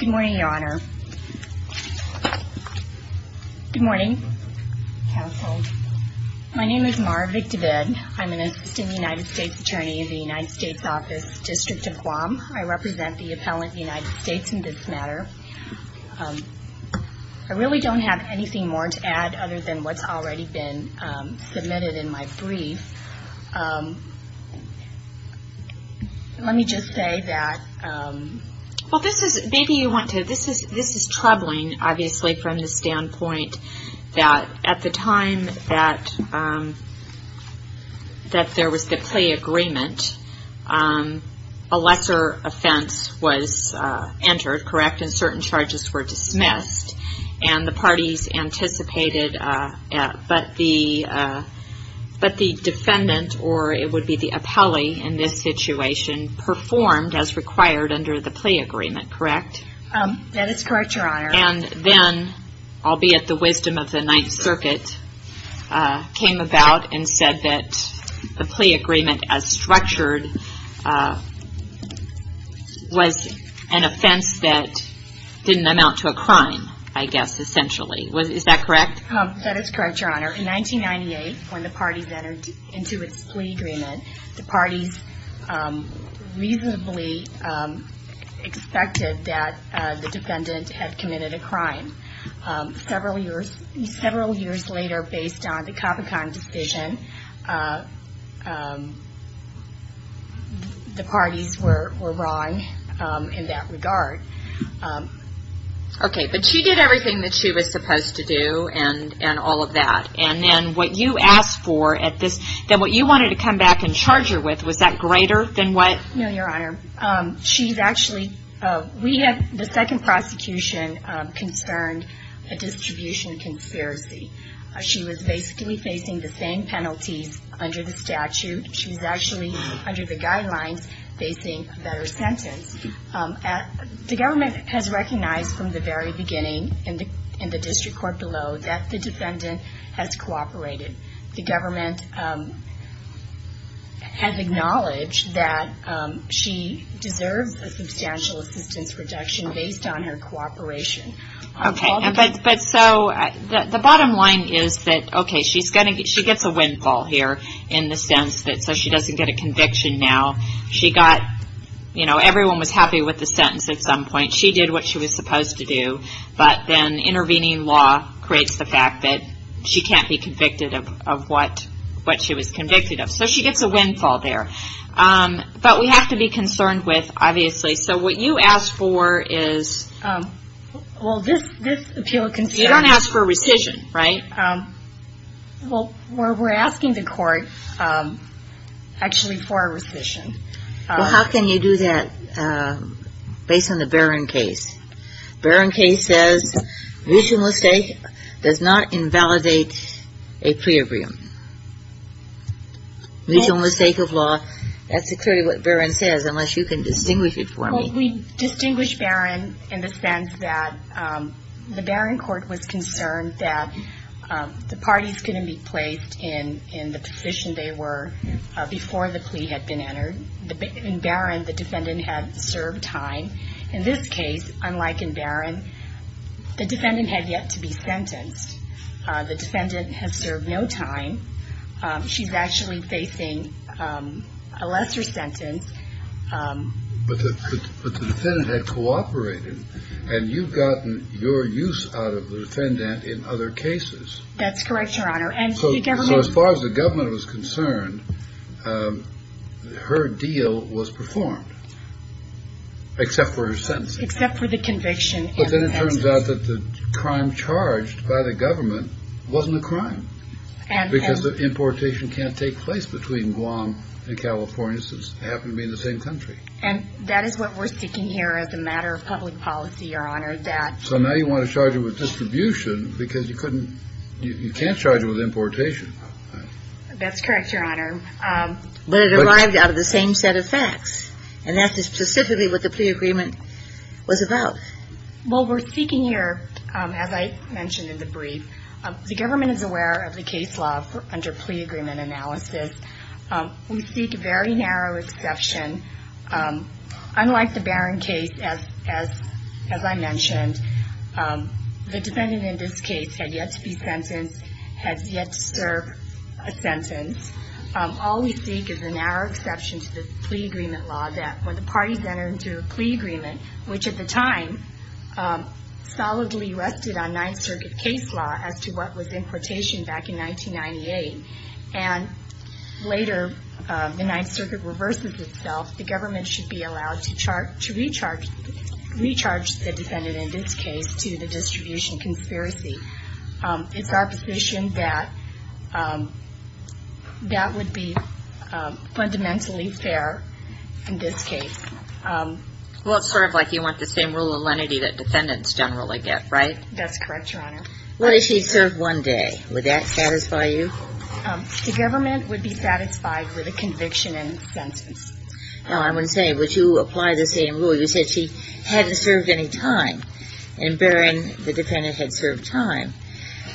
Good morning, your honor. Good morning, counsel. My name is Mara Vick-DeVid. I'm an assistant United States attorney in the United States Office District of Guam. I represent the appellant United States in this matter. I really don't have anything more to add other than what's already been submitted in my brief. Let me just say that, well, this is, maybe you want to, this is troubling, obviously, from the standpoint that at the time that there was the plea agreement, a lesser offense was entered, correct, and certain charges were dismissed, and the parties anticipated, but the defendant, or it would be the appellee in this situation, performed as required under the plea agreement, correct? That is correct, your honor. And then, albeit the wisdom of the Ninth Circuit, came about and said that the plea agreement as structured was an offense that didn't amount to a crime, I guess, essentially. Is that correct? That is correct, your honor. In 1998, when the parties entered into its plea agreement, the parties reasonably expected that the defendant had committed a crime. Several years later, based on the Capucon decision, the parties were wrong in that regard. Okay, but she did everything that she was supposed to do, and all of that, and then what you asked for at this, then what you wanted to come back and charge her with, was that greater than what? No, your honor. She's actually, we have the second prosecution concerned a distribution conspiracy. She was basically facing the same penalties under the statute. She was actually, under the guidelines, facing a better sentence. The government has recognized from the very beginning, in the district court below, that the defendant has cooperated. The government has acknowledged that she deserves a substantial assistance reduction based on her cooperation. Okay, but so, the bottom line is that, okay, she gets a windfall here, in the sense that so she doesn't get a conviction now. She got, you know, everyone was happy with the sentence at some point. She did what she was supposed to do, but then intervening law creates the fact that she can't be convicted of what she was convicted of. So she gets a windfall there. But we have to be concerned with, obviously, so what you asked for is, you don't ask for rescission, right? Well, we're asking the court, actually, for a rescission. How can you do that based on the Barron case? Barron case says, reasonable stake does not invalidate a plea agreement. Reasonable stake of law, that's exactly what Barron says, unless you can distinguish it for me. Well, we distinguish Barron in the sense that the Barron court was concerned that the parties couldn't be placed in the position they were before the plea had been entered. In Barron, the defendant had served time. In this case, unlike in Barron, the defendant had yet to be sentenced. The defendant has served no time. She's actually facing a lesser sentence. But the defendant had cooperated, and you've gotten your use out of the defendant in other cases. That's correct, Your Honor. So as far as the government was concerned, her deal was performed, except for her sentencing. Except for the conviction. But then it turns out that the crime charged by the government wasn't a crime, because the importation can't take place between Guam and California, since they happen to be in the same country. And that is what we're seeking here as a matter of public policy, Your Honor, that... So now you want to charge her with distribution because you couldn't, you can't charge her with importation. That's correct, Your Honor. But it arrived out of the same set of facts. And that is specifically what the plea agreement was about. Well, we're seeking here, as I mentioned in the brief, the government is aware of the case law under plea agreement analysis. We seek a very narrow exception. Unlike the Barron case, as I mentioned, the defendant in this case had yet to be sentenced, has yet to serve a sentence. All we seek is a narrow exception to the plea agreement law, that when the parties enter into a plea agreement, which at the time solidly rested on Ninth Circuit case law as to what was importation back in 1998, and later the Ninth Circuit reverses itself, the government should be allowed to charge, to recharge the defendant in this case to the distribution conspiracy. It's our position that that would be fundamentally fair in this case. Well, it's sort of like you want the same rule of lenity that defendants generally get, right? That's correct, Your Honor. What if she served one day? Would that satisfy you? The government would be satisfied with a conviction and a sentence. Now, I'm going to say, would you apply the same rule? You said she hadn't served any time, and Barron, the defendant, had served time.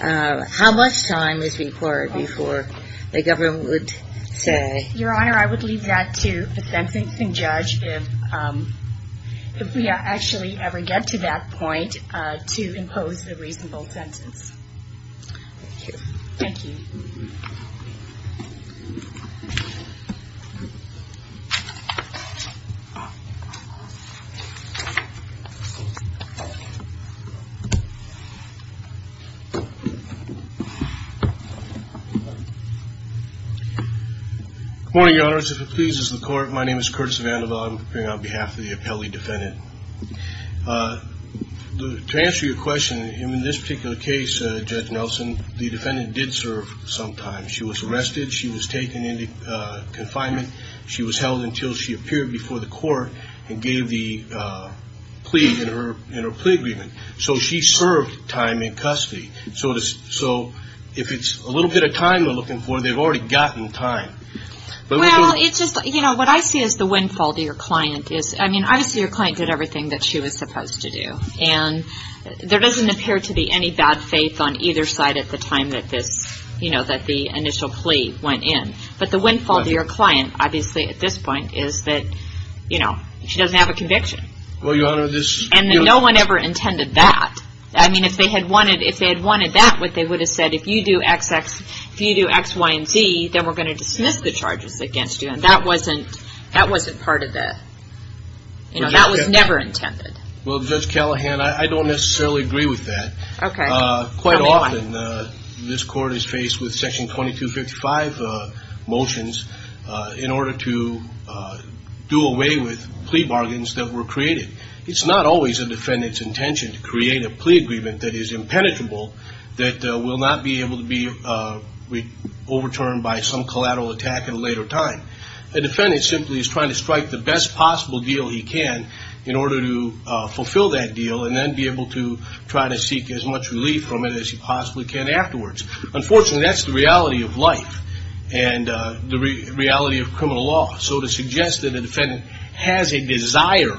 How much time is required before the government would say? Your Honor, I would leave that to the sentencing judge if we actually ever get to that point to impose a reasonable sentence. Thank you. Thank you. Good morning, Your Honor. As it pleases the Court, my name is Curtis Vanderbilt. I'm appearing on behalf of the appellee defendant. To answer your question, in this particular case, Judge Nelson, the defendant did serve some time. She was arrested. She was taken into confinement. She was held until she appeared before the Court and gave the plea in her plea agreement. So she served time in custody. So if it's a little bit of time they're looking for, they've already gotten time. Well, it's just, you know, what I see as the windfall to your client is, I mean, obviously your client did everything that she was supposed to do. And there doesn't appear to be any bad faith on either side at the time that this, you know, that the initial plea went in. But the windfall to your client, obviously at this point, is that, you know, she doesn't have a conviction. Well, Your Honor, this... And no one ever intended that. I mean, if they had wanted that, what they would have said, if you do X, Y, and Z, then we're going to dismiss the charges against you. And that wasn't part of the... You know, that was never intended. Well, Judge Callahan, I don't necessarily agree with that. Okay. Quite often this Court is faced with Section 2255 motions in order to do away with plea bargains that were created. It's not always a defendant's intention to create a plea agreement that is impenetrable, that will not be able to be overturned by some collateral attack at a later time. A defendant simply is trying to strike the best possible deal he can in order to fulfill that deal and then be able to try to seek as much relief from it as he possibly can afterwards. Unfortunately, that's the reality of life and the reality of criminal law. So to suggest that a defendant has a desire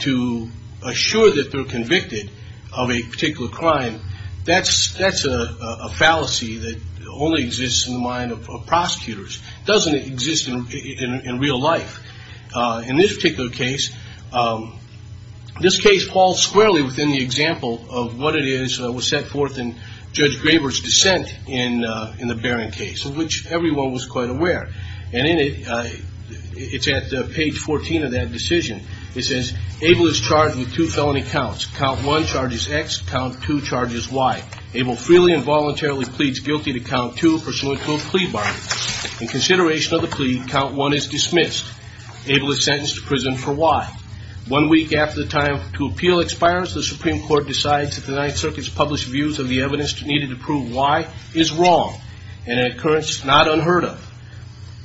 to assure that they're convicted of a particular crime, that's a fallacy that only exists in the mind of prosecutors. It doesn't exist in real life. In this particular case, this case falls squarely within the example of what it is that was set forth in Judge Graber's dissent in the Barron case, which everyone was quite aware. And in it, it's at page 14 of that decision, it says, Able is charged with two felony counts. Count one charges X, count two charges Y. Able freely and voluntarily pleads guilty to count two pursuant to a plea bargain. In consideration of the plea, count one is dismissed. Able is sentenced to prison for Y. One week after the time to appeal expires, the Supreme Court decides that the Ninth Circuit's published views of the evidence needed to prove Y is wrong and an occurrence not unheard of.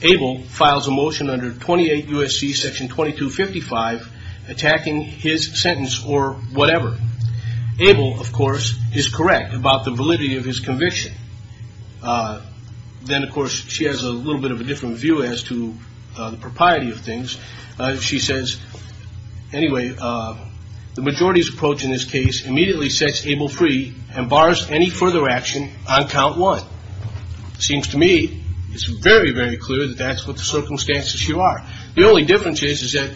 Able files a motion under 28 U.S.C. section 2255 attacking his sentence or whatever. Able, of course, is correct about the validity of his conviction. Then, of course, she has a little bit of a different view as to the propriety of things. She says, anyway, the majority's approach in this case immediately sets Able free and bars any further action on count one. Seems to me it's very, very clear that that's what the circumstances here are. The only difference is that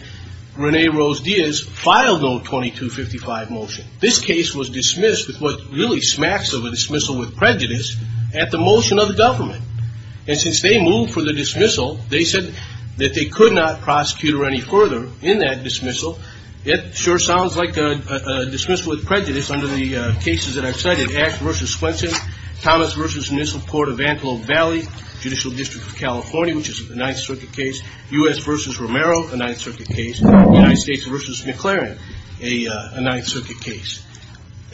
Renee Rose Diaz filed no 2255 motion. This case was dismissed with what really smacks of a dismissal with prejudice at the motion of the government. And since they moved for the dismissal, they said that they could not prosecute her any further in that dismissal. It sure sounds like a dismissal with prejudice under the cases that I've cited, Axe v. Swenson, Thomas v. Municipal Court of Antelope Valley, Judicial District of California, which is a Ninth Circuit case, U.S. v. Romero, a Ninth Circuit case, United States v. McLaren, a Ninth Circuit case.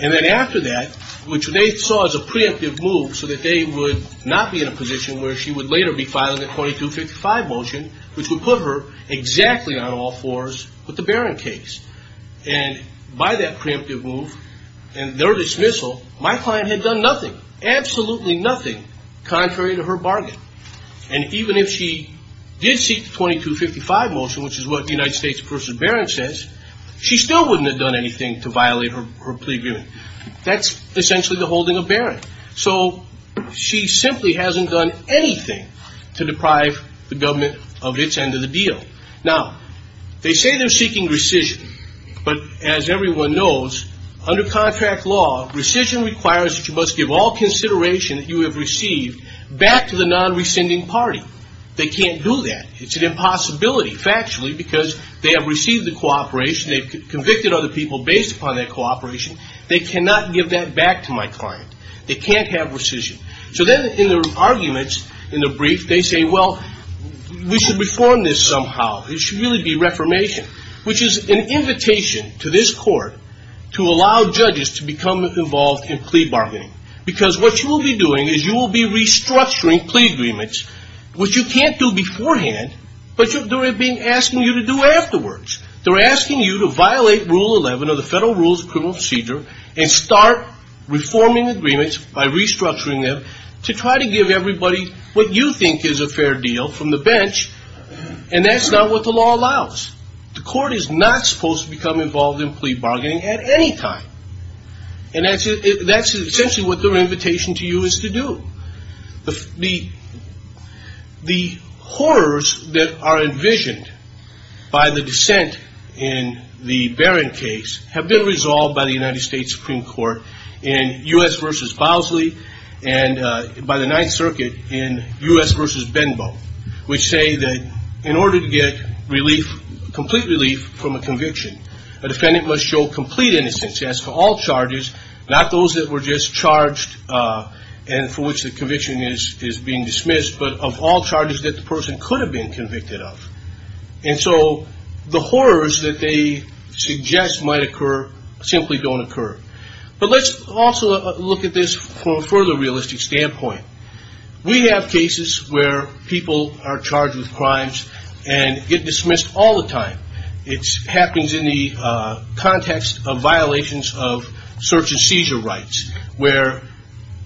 And then after that, which they saw as a preemptive move so that they would not be in a position where she would later be filing a 2255 motion, which would put her exactly on all fours with the Barron case. And by that preemptive move and their dismissal, my client had done nothing, absolutely nothing, contrary to her bargain. And even if she did seek the 2255 motion, which is what the United States v. Barron says, she still wouldn't have done anything to violate her plea agreement. That's essentially the holding of Barron. So she simply hasn't done anything to deprive the government of its end of the deal. Now, they say they're seeking rescission. But as everyone knows, under contract law, rescission requires that you must give all consideration that you have received back to the non-rescinding party. They can't do that. It's an impossibility, factually, because they have received the cooperation. They've convicted other people based upon that cooperation. They cannot give that back to my client. They can't have rescission. So then in their arguments, in the brief, they say, well, we should reform this somehow. It should really be reformation, which is an invitation to this court to allow judges to become involved in plea bargaining. Because what you will be doing is you will be restructuring plea agreements, which you can't do beforehand, but they're asking you to do afterwards. They're asking you to violate Rule 11 of the Federal Rules of Criminal Procedure and start reforming agreements by restructuring them to try to give everybody what you think is a fair deal from the bench. And that's not what the law allows. The court is not supposed to become involved in plea bargaining at any time. And that's essentially what their by the dissent in the Barron case have been resolved by the United States Supreme Court in U.S. v. Bosley and by the Ninth Circuit in U.S. v. Benbow, which say that in order to get complete relief from a conviction, a defendant must show complete innocence as to all charges, not those that were just charged and for which the conviction is being dismissed, but of all charges that the person could have been convicted of. And so the horrors that they suggest might occur simply don't occur. But let's also look at this from a further realistic standpoint. We have cases where people are charged with crimes and get dismissed all the time. It happens in the context of violations of search and seizure rights, where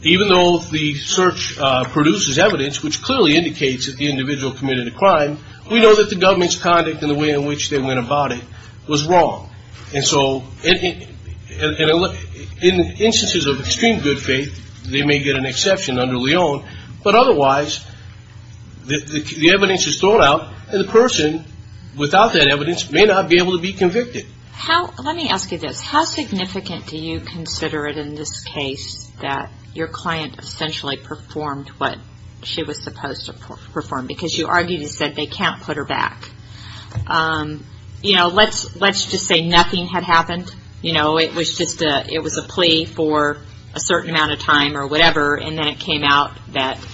even though the search produces evidence which clearly indicates that the individual committed a crime, we know that the government's conduct and the way in which they went about it was wrong. And so in instances of extreme good faith, they may get an exception under Leon, but otherwise the evidence is thrown out and the person without that evidence may not be able to be convicted. How, let me ask you this. How significant do you consider it in this case that your client essentially performed what she was supposed to perform because you argued and said they can't put her back? You know, let's just say nothing had happened. You know, it was just a, it was a plea for a certain amount of time or whatever, and then it came out that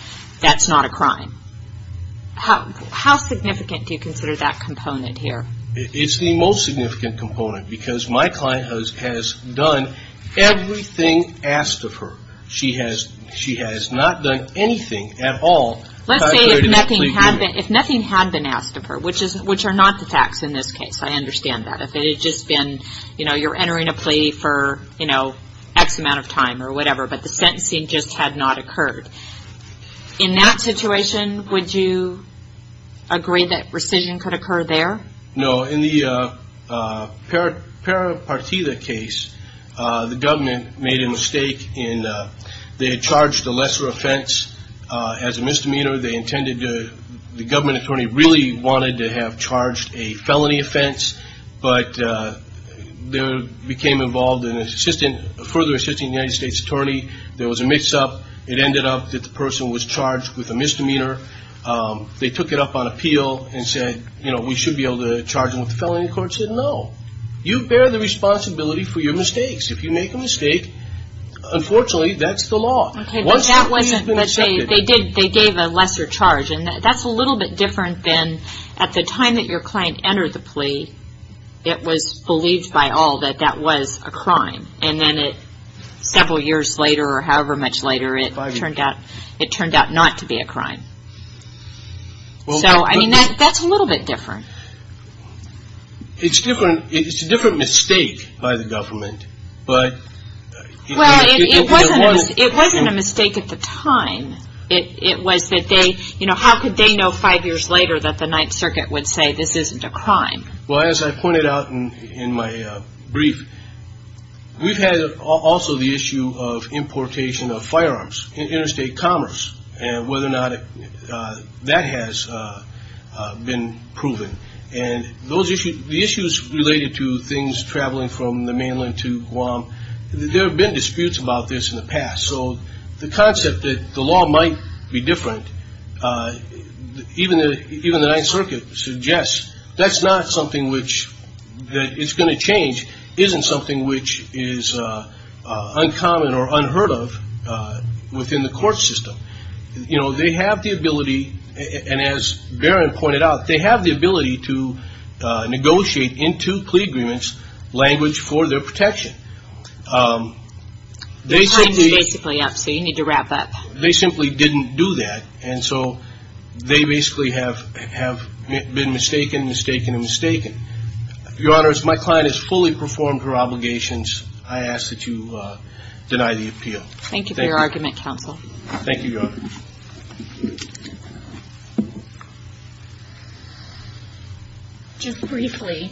that's not a crime. How significant do you consider that component here? It's the most significant component because my client has done everything asked of her. She has, she has not done anything at all. Let's say if nothing had been, if nothing had been asked of her, which is, which are not the facts in this case. I understand that. If it had just been, you know, you're entering a plea for, you know, X amount of time or whatever, but the sentencing just had not occurred. In that situation, would you agree that rescission could occur there? No. In the Pera Partida case, the government made a mistake in, they had charged a lesser offense as a misdemeanor. They intended to, the government attorney really wanted to have charged a felony offense, but they became involved in further assisting the United States attorney. There was a mix-up. It ended up that the person was charged with a misdemeanor. They took it up on appeal and said, you know, we should be able to charge them with a felony. The court said, no. You bear the responsibility for your mistakes. If you make a mistake, unfortunately, that's the law. Once you've been accepted. Okay, but that wasn't, but they did, they gave a lesser charge. And that's a little bit different than at the time that your client entered the plea, it was believed by all that that was a crime. And then it, several years later or however much later, it turned out, it turned out not to be a crime. So, I mean, that's a little bit different. It's different, it's a different mistake by the government, but. Well, it wasn't a mistake at the time. It was that they, you know, how could they know five years later that the Ninth Circuit would say this isn't a crime? Well, as I pointed out in my brief, we've had also the issue of importation of firearms in interstate commerce and whether or not that has been proven. And those issues, the issues related to things traveling from the mainland to Guam, there have been disputes about this in the past. So the concept that the law might be different, even the Ninth Circuit suggests that's not something which, that it's going to change, isn't something which is uncommon or unheard of within the court system. You know, they have the ability, and as Barron pointed out, they have the ability to negotiate in two plea agreements language for their protection. They simply. Your time is basically up, so you need to wrap up. They simply didn't do that, and so they basically have been mistaken, mistaken, and mistaken. Your Honor, as my client has fully performed her obligations, I ask that you deny the appeal. Thank you for your argument, counsel. Thank you, Your Honor. Just briefly,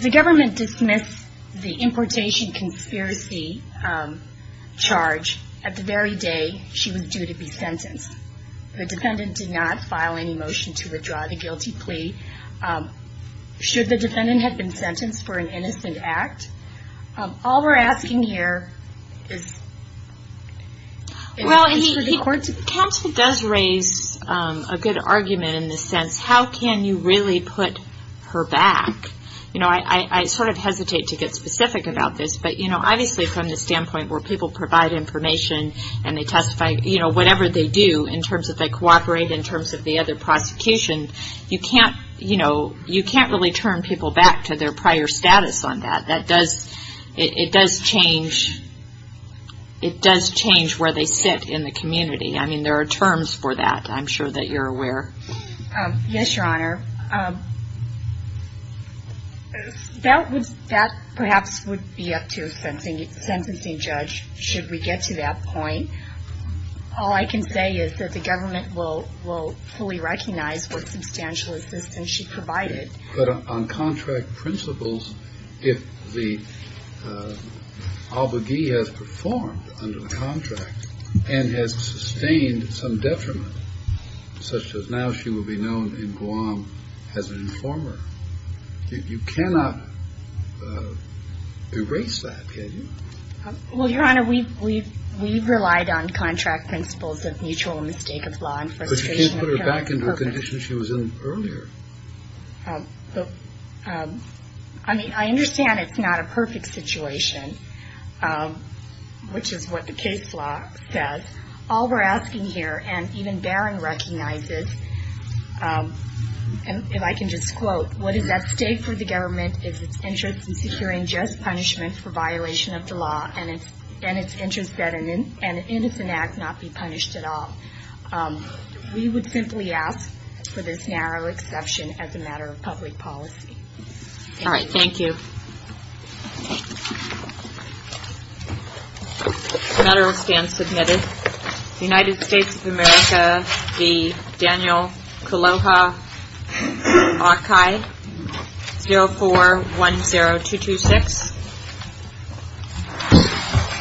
the government dismissed the importation conspiracy charge at the very day she was due to be sentenced. The defendant did not file any motion to withdraw the guilty plea, should the defendant have been sentenced for an innocent act. All we're asking here is. Well, and he, counsel does raise a good argument in the sense, how can you really put her back? You know, I sort of hesitate to get specific about this, but you know, obviously from the standpoint where people provide information and they testify, you know, whatever they do in terms of they cooperate, in terms of the other prosecution, you can't, you know, you can't really turn people back to their prior status on that. That does, it does change, it does change where they sit in the community. I mean, there are terms for that. I'm sure that you're aware. Yes, Your Honor. That would, that perhaps would be up to a sentencing judge, should we get to that point. All I can say is that the government will, will fully recognize what substantial assistance she provided. But on contract principles, if the obigee has performed under the contract and has sustained some detriment, such as now she will be known in Guam as an informer, you cannot erase that, can you? Well, Your Honor, we've, we've, we've relied on contract principles of mutual mistake of law and frustration of parents. But you can't put her back under the conditions she was in earlier. I mean, I understand it's not a perfect situation, which is what the case law says. All we're asking here, and even Barron recognizes, and if I can just quote, what is at stake for the government is its interest in securing just punishment for violation of the law and its interest that an innocent act not be punished at all. We would simply ask for this narrow exception as a matter of public policy. All right, thank you. The matter will stand submitted. The United States of America, the Daniel Kaloha Archive, 0410226.